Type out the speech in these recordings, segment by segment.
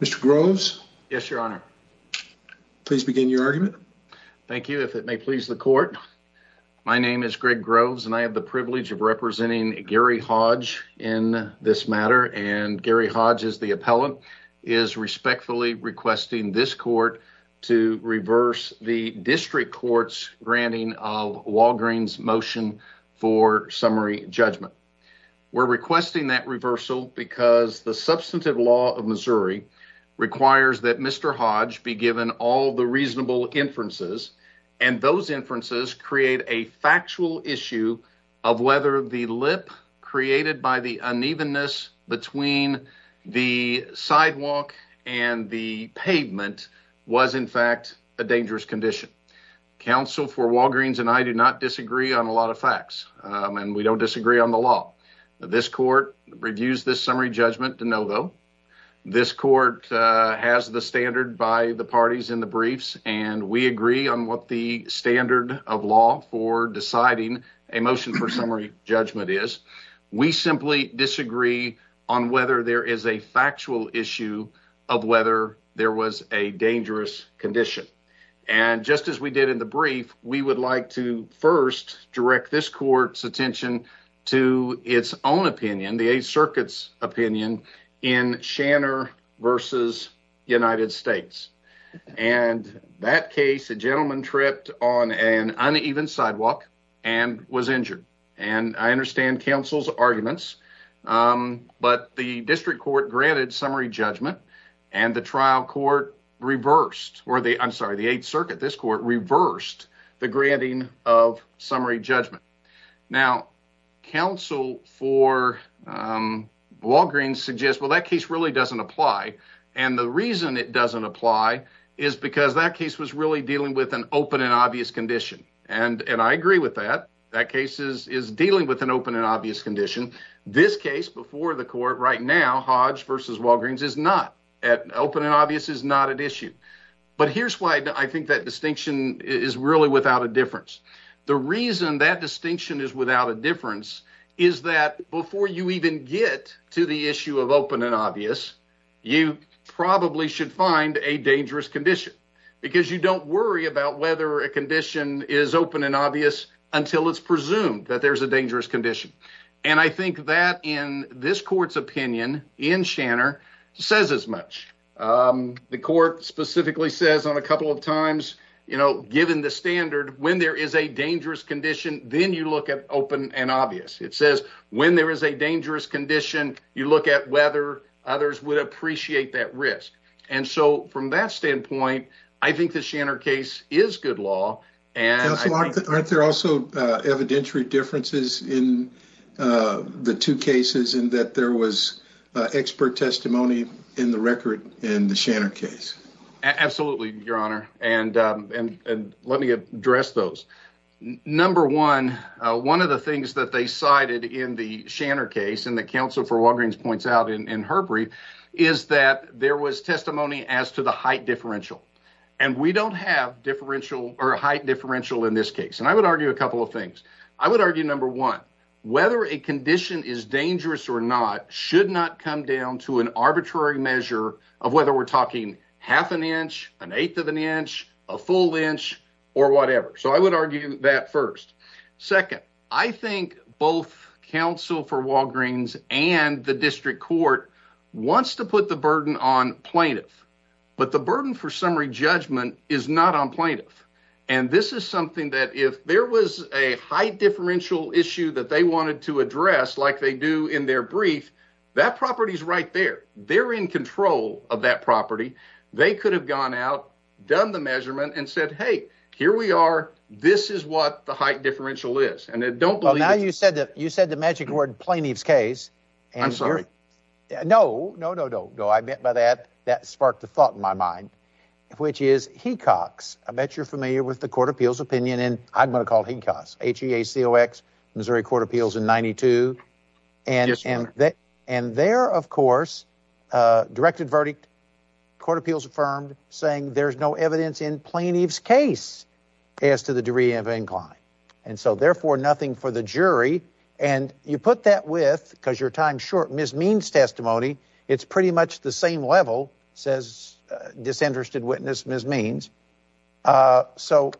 Mr. Groves, yes, your honor, please begin your argument. Thank you. If it may please the court. My name is Greg Groves and I have the privilege of representing Gary Hodge in this matter and Gary Hodge is the appellant is respectfully requesting this court to reverse the district court's granting of Walgreen's motion for summary judgment. We're requesting that reversal because the substantive law of Missouri requires that Mr. Hodge be given all the reasonable inferences and those inferences create a factual issue of whether the lip created by the unevenness between the sidewalk and the pavement was in fact a dangerous condition. Counsel for Walgreens and I do not disagree on a lot of facts and we don't disagree on the law. This court reviews this summary judgment to no vote. This court has the standard by the parties in the briefs and we agree on what the standard of law for deciding a motion for summary judgment is. We simply disagree on whether there is a factual issue of whether there was a dangerous condition and just as we did in the brief, we would like to first direct this court's attention to its own opinion, the Eighth Circuit's opinion in Shanner versus United States and that case a gentleman tripped on an uneven sidewalk and was injured and I understand counsel's arguments but the district court granted summary judgment and the trial court reversed or the I'm sorry the Eighth Circuit, this court reversed the granting of summary judgment. Now counsel for Walgreens suggests well that case really doesn't apply and the reason it is really dealing with an open and obvious condition and I agree with that. That case is dealing with an open and obvious condition. This case before the court right now, Hodge versus Walgreens is not. Open and obvious is not an issue but here's why I think that distinction is really without a difference. The reason that distinction is without a difference is that before you even get to the issue of worry about whether a condition is open and obvious until it's presumed that there's a dangerous condition and I think that in this court's opinion in Shanner says as much. The court specifically says on a couple of times you know given the standard when there is a dangerous condition, then you look at open and obvious. It says when there is a dangerous condition, you look at whether others would appreciate that risk. And so from that standpoint, I think the Shanner case is good law and I think... Counsel, aren't there also evidentiary differences in the two cases in that there was expert testimony in the record in the Shanner case? Absolutely, your honor and let me address those. Number one, one of the things that they cited in the Shanner case and the counsel for Walgreens points out in her brief is that there was testimony as to the height differential. And we don't have differential or height differential in this case and I would argue a couple of things. I would argue number one, whether a condition is dangerous or not should not come down to an arbitrary measure of whether we're talking half an inch, an eighth of an inch, a full inch or whatever. So I would argue that first. Second, I think both counsel for Walgreens and the district court wants to put the burden on plaintiff, but the burden for summary judgment is not on plaintiff. And this is something that if there was a height differential issue that they wanted to address like they do in their brief, that property is right there. They're in control of that property. They could have gone out, done the measurement and said, hey, here we are. This is what the height differential is. And I don't know. Now you said that you said the magic word plaintiff's case. And I'm sorry. No, no, no, no, no. I meant by that. That sparked the thought in my mind, which is he cocks. I bet you're familiar with the court appeals opinion. And I'm going to call HECOX, H-E-A-C-O-X, Missouri Court of Appeals in 92. And and that and there, of course, directed verdict court appeals affirmed, saying there's no evidence in plaintiff's case as to the degree of incline. And so therefore, nothing for the jury. And you put that with because your time short mismeans testimony. It's pretty much the same level, says disinterested witness mismeans. So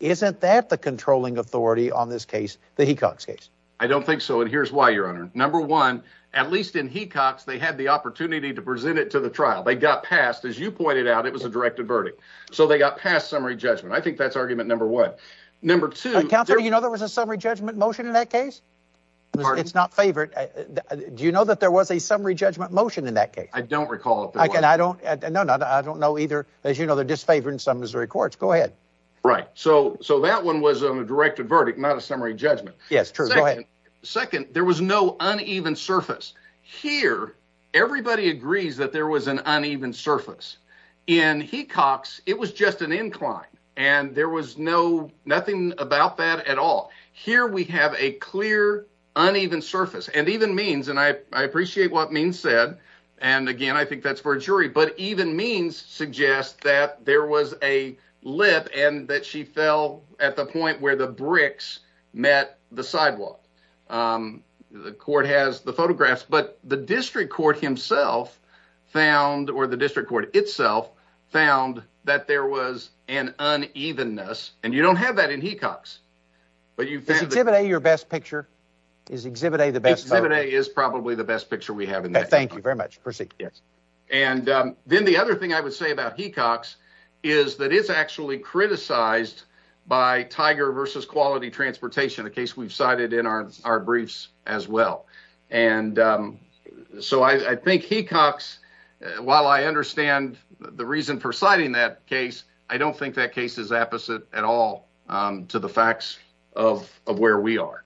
isn't that the controlling authority on this case, the HECOX case? I don't think so. And here's why, your honor. Number one, at least in HECOX, they had the opportunity to present it to the trial. They got passed. As you pointed out, it was a directed verdict. So they got past summary judgment. I think that's argument number one. Number two, you know, there was a summary judgment motion in that case. It's not favored. Do you know that there was a summary judgment motion in that case? I don't recall. And I don't know. I don't know either. As you know, they're disfavored in some Missouri courts. Go ahead. Right. So so that one was a directed verdict, not a summary judgment. Yes, true. Go ahead. Second, there was no uneven surface here. Everybody agrees that there was an uneven surface in HECOX. It was just an incline. And there was no nothing about that at all. Here we have a clear uneven surface. And even Means, and I appreciate what Means said. And again, I think that's for a jury. But even Means suggests that there was a lip and that she fell at the point where the bricks met the sidewalk. The court has the photographs. But the district court himself found or the district court itself found that there was an unevenness. And you don't have that in HECOX. But you exhibit your best picture is exhibit. A the best is probably the best picture we have. And thank you very much. Proceed. Yes. And then the other thing I would say about HECOX is that it's actually criticized by Tiger versus Quality Transportation, a case we've cited in our briefs as well. And so I think HECOX, while I understand the reason for citing that case, I don't think that case is apposite at all to the facts of of where we are.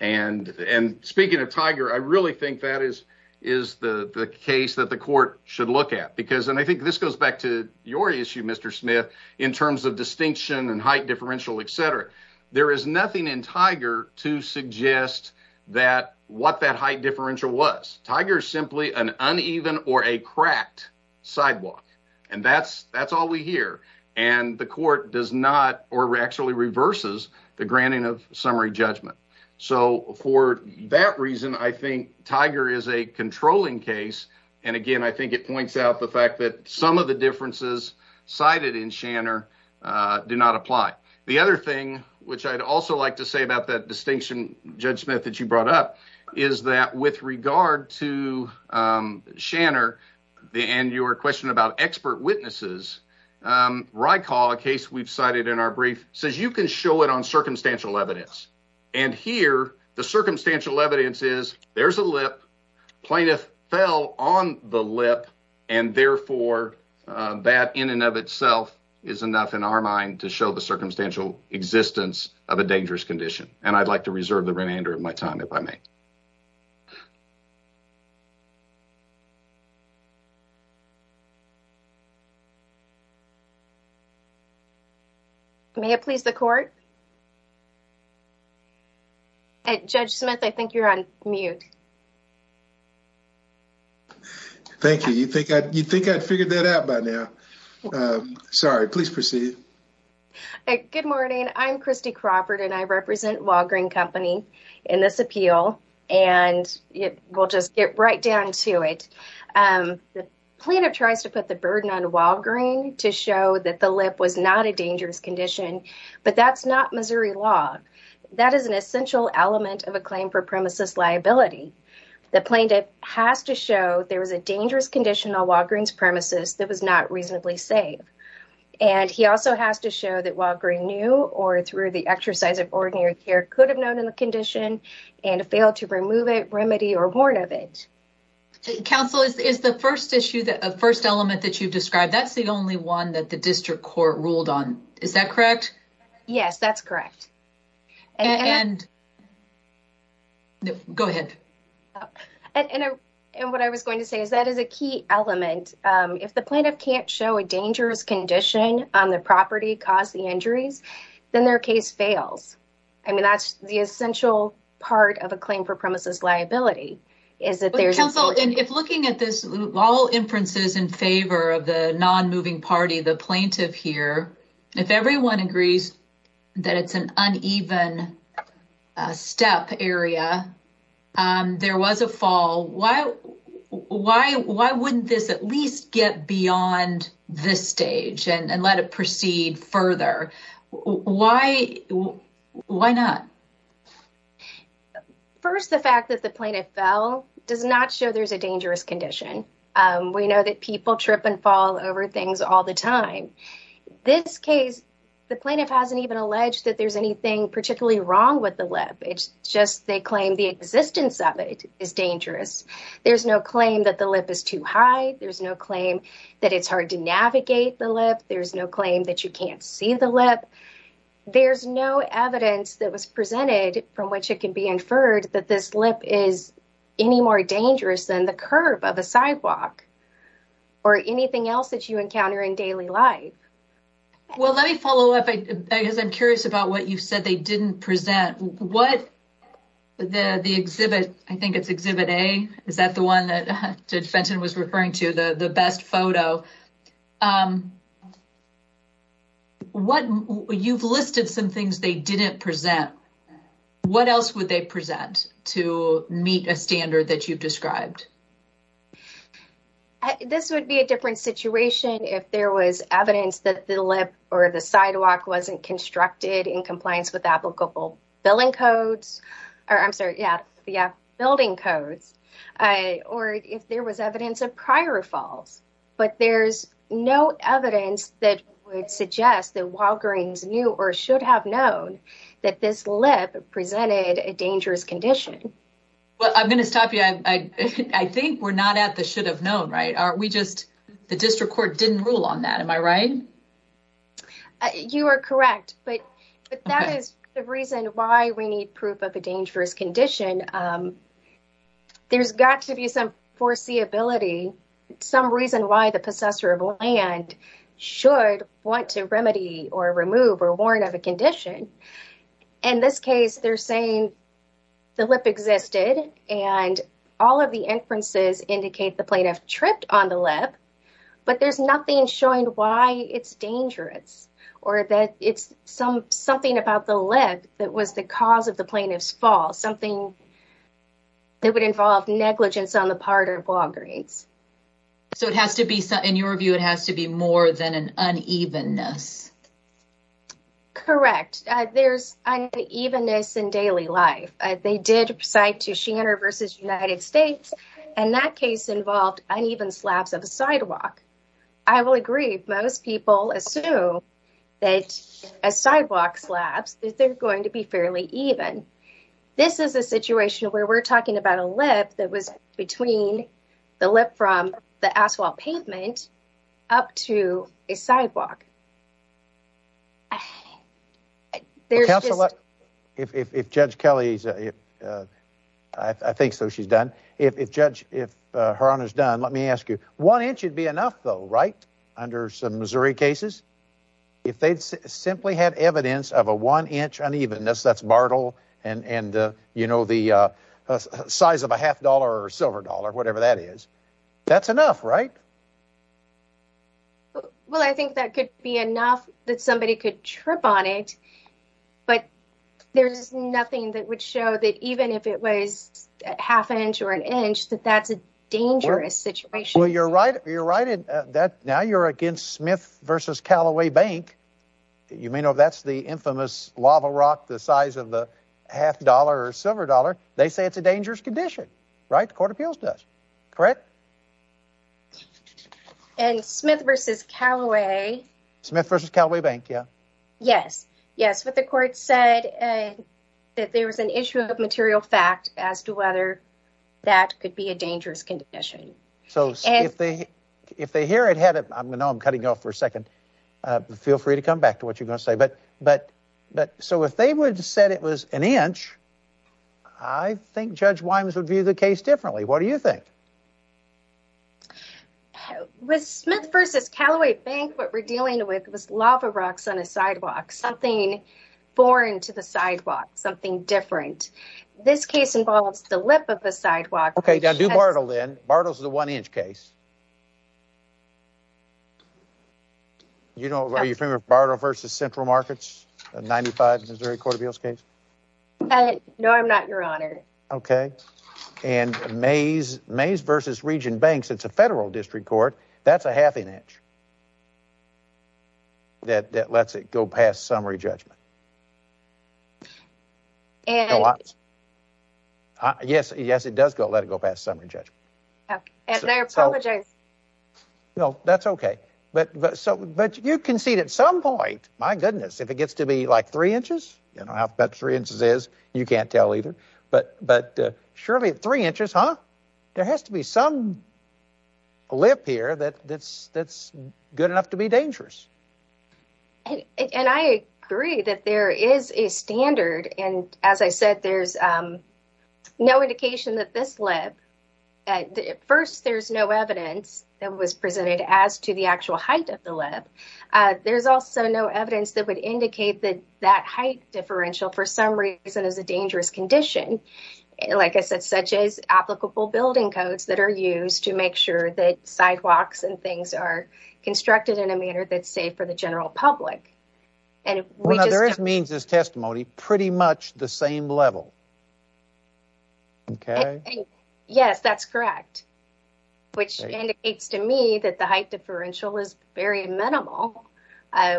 And and speaking of Tiger, I really think that is is the case that the court should look at, because and I think this goes back to your issue, Mr. Smith, in terms of distinction and height, differential, et cetera. There is nothing in Tiger to suggest that what that height differential was. Tiger is simply an uneven or a cracked sidewalk. And that's that's all we hear. And the court does not or actually reverses the granting of summary judgment. So for that reason, I think Tiger is a controlling case. And again, I think it points out the fact that some of the differences cited in Shanner do not apply. The other thing which I'd also like to say about that distinction, Judge Smith, that you brought up, is that with regard to Shanner and your question about expert witnesses, RYCAL, a case we've cited in our brief, says you can show it on circumstantial evidence. And here the circumstantial evidence is there's a lip plaintiff fell on the lip. And therefore, that in and of itself is enough in our mind to show the circumstantial existence of a dangerous condition. And I'd like to reserve the remainder of my time, if I may. May it please the court? Judge Smith, I think you're on mute. Thank you. You'd think I'd figured that out by now. Sorry. Please proceed. Good morning. I'm Kristi Crawford, and I represent Walgreen Company in this appeal. And we'll just get right down to it. The plaintiff tries to put the burden on Walgreen to show that the lip was not a dangerous condition. But that's not Missouri law. That is an essential element of a claim for premises liability. The plaintiff has to show there was a dangerous condition on Walgreen's premises that was not reasonably safe. And he also has to show that Walgreen knew, or through the exercise of ordinary care, could have known of the condition and failed to remove it, remedy, or warn of it. Counsel, is the first issue, the first element that you've described, that's the only one that the district court ruled on. Is that correct? Yes, that's correct. And... Go ahead. And what I was going to say is that is a key element. If the plaintiff can't show a dangerous condition on the property, cause the injuries, then their case fails. I mean, that's the essential part of a claim for premises liability, is that there's... Counsel, if looking at this, all inferences in favor of the non-moving party, the plaintiff here, if everyone agrees that it's an uneven step area, there was a fall, why wouldn't this at least get beyond this stage and let it proceed further? Why not? First, the fact that the plaintiff fell does not show there's a dangerous condition. We know that people trip and fall over things all the time. This case, the plaintiff hasn't even alleged that there's anything particularly wrong with the lip. It's just they claim the existence of it is dangerous. There's no claim that the lip is too high. There's no claim that it's hard to navigate the lip. There's no claim that you can't see the lip. There's no evidence that was presented from which it can be inferred that this lip is any more dangerous than the curve of a sidewalk or anything else that you encounter in daily life. Well, let me follow up. I guess I'm curious about what you said they didn't present. What the exhibit, I think it's exhibit A. Is that the one that Judge Fenton was referring to, the best photo? You've listed some things they didn't present. What else would they present to meet a standard that you've described? This would be a different situation if there was evidence that the lip or the sidewalk wasn't constructed in compliance with applicable building codes, or I'm sorry, yeah, building codes, or if there was evidence of prior falls. But there's no evidence that would suggest that Walgreens knew or should have known that this lip presented a dangerous condition. Well, I'm going to stop you. I think we're not at the should have known, right? Are we just, the district court didn't rule on that. Am I right? You are correct, but that is the reason why we need proof of a dangerous condition. There's got to be some foreseeability, some reason why the possessor of land should want to remedy or remove or warrant of a condition. In this case, they're saying the lip existed and all of the inferences indicate the plaintiff tripped on the lip, but there's nothing showing why it's dangerous or that it's something about the lip that was the cause of the plaintiff's fall, something that would involve negligence on the part of Walgreens. So it has to be, in your view, it has to be more than an unevenness. Correct. There's unevenness in daily life. They did cite to Shanner versus United States, and that case involved uneven slabs of a sidewalk. I will agree. Most people assume that a sidewalk slabs, that they're going to be fairly even. This is a situation where we're talking about a lip that was between the lip from the asphalt pavement up to a sidewalk. I, there's just. Counselor, if Judge Kelly's, I think so she's done. If Judge, if her honor's done, let me ask you, one inch would be enough though, right? Under some Missouri cases, if they'd simply had evidence of a one inch unevenness, that's Bartle and, you know, the size of a half dollar or silver dollar, whatever that is, that's enough, right? Well, I think that could be enough that somebody could trip on it. But there's nothing that would show that even if it was half inch or an inch, that that's a dangerous situation. Well, you're right. You're right at that. Now you're against Smith versus Calloway Bank. You may know that's the infamous lava rock, the size of the half dollar or silver dollar. They say it's a dangerous condition, right? The court of appeals does, correct? And Smith versus Calloway. Smith versus Calloway Bank. Yeah. Yes. Yes. But the court said that there was an issue of material fact as to whether that could be a dangerous condition. So if they, if they hear it, had it, I'm going to, I'm cutting off for a second. Feel free to come back to what you're going to say. But, but, but so if they would have said it was an inch, I think Judge Wimes would view the case differently. What do you think? With Smith versus Calloway Bank, what we're dealing with was lava rocks on a sidewalk, something foreign to the sidewalk, something different. This case involves the lip of the sidewalk. Okay. Now do Bartle then. Bartle's the one inch case. You know, are you familiar with Bartle versus Central Markets, a 95 Missouri court of appeals case? No, I'm not, your honor. Okay. And Mays, Mays versus region banks. It's a federal district court. That's a half an inch. That, that lets it go past summary judgment. And yes, yes, it does go, let it go past summary judgment. Okay. And I apologize. No, that's okay. But, but so, but you can see at some point, my goodness, if it gets to be like three inches, you know, about three inches is you can't tell either. But, but surely three inches, huh? There has to be some lip here that that's, that's good enough to be dangerous. And I agree that there is a standard. And as I said, there's no indication that this lip at first, there's no evidence that was presented as to the actual height of the lip. There's also no evidence that would indicate that that height differential for some reason is a dangerous condition. Like I said, such as applicable building codes that are used to make sure that sidewalks and things are constructed in a manner that's safe for the general public. And we just, there is means this testimony pretty much the same level. Okay. Yes, that's correct. Which indicates to me that the height differential is very minimal.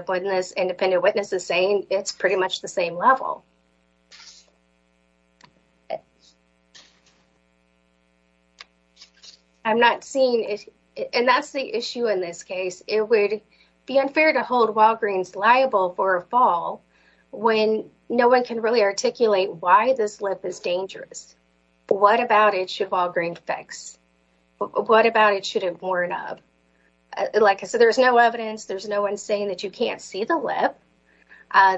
When this independent witness is saying it's pretty much the same level. I'm not seeing it. And that's the issue in this case. It would be unfair to hold Walgreens liable for a fall when no one can really articulate why this lip is dangerous. What about it should Walgreens fix? What about it should have worn up? Like I said, there's no evidence. There's no one saying that you can't see the lip.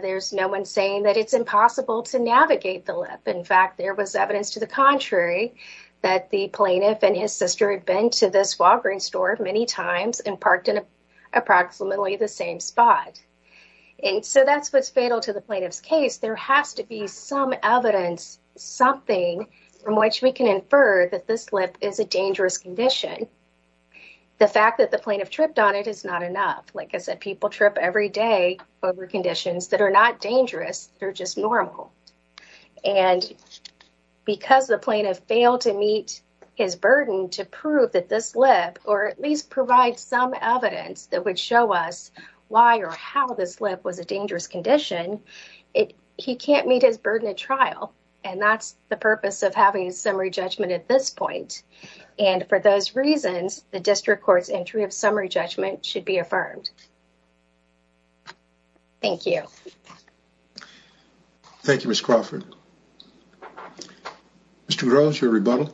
There's no one saying that it's impossible to navigate the lip. In fact, there was evidence to the contrary that the plaintiff and his sister had been to this Walgreens store many times and parked in approximately the same spot. And so that's what's fatal to the plaintiff's case. There has to be some evidence, something from which we can infer that this lip is a dangerous condition. The fact that the plaintiff tripped on it is not enough. Like I said, people trip every day over conditions that are not dangerous. They're just normal. And because the plaintiff failed to meet his burden to prove that this lip or at least provide some evidence that would show us why or how this lip was a dangerous condition, he can't meet his burden at trial. And that's the purpose of having a summary judgment at this point. And for those reasons, the district court's entry of summary judgment should be affirmed. Thank you. Thank you, Ms. Crawford. Mr. Groves, your rebuttal.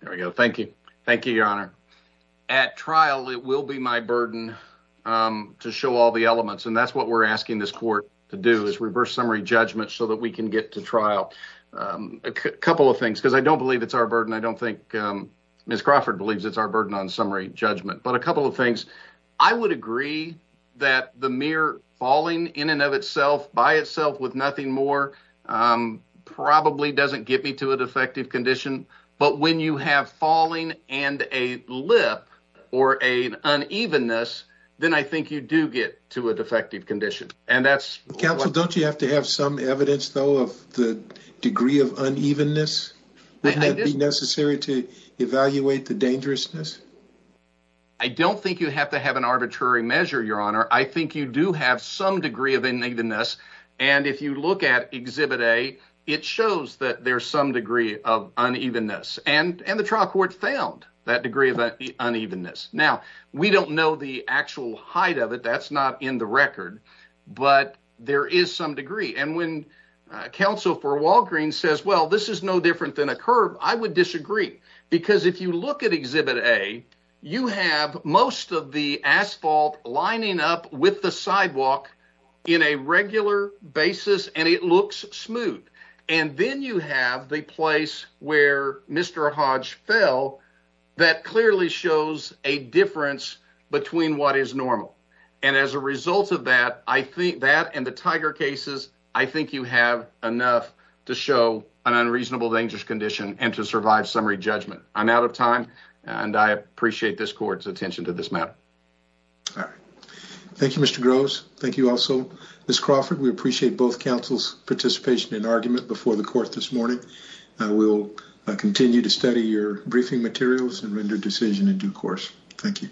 There we go. Thank you. Thank you, Your Honor. At trial, it will be my burden to show all the elements. And that's what we're asking this court to do is reverse summary judgment so that we can get to trial. A couple of things, because I don't believe it's our burden. I don't think Ms. Crawford believes it's our burden on summary judgment. But a couple of things. I would agree that the mere falling in and of itself by itself with nothing more probably doesn't get me to a defective condition. But when you have falling and a lip or an unevenness, then I think you do get to a defective condition. And that's... Counsel, don't you have to have some evidence, though, of the degree of unevenness? Wouldn't it be necessary to evaluate the dangerousness? I don't think you have to have an arbitrary measure, Your Honor. I think you do have some degree of unevenness. And if you look at Exhibit A, it shows that there's some degree of unevenness. And the trial court found that degree of unevenness. Now, we don't know the actual height of it. That's not in the record. But there is some degree. And when counsel for Walgreens says, well, this is no different than a curb, I would disagree. Because if you look at Exhibit A, you have most of the asphalt lining up with the sidewalk in a regular basis. And it looks smooth. And then you have the place where Mr. Hodge fell that clearly shows a difference between what is normal. And as a result of that, I think that and the Tiger cases, I think you have enough to show an unreasonable dangerous condition and to survive summary judgment. I'm out of time. And I appreciate this court's attention to this matter. All right. Thank you, Mr. Groves. Thank you also, Ms. Crawford. We appreciate both counsel's participation and argument before the court this morning. We'll continue to study your briefing materials and render decision in due course. Thank you.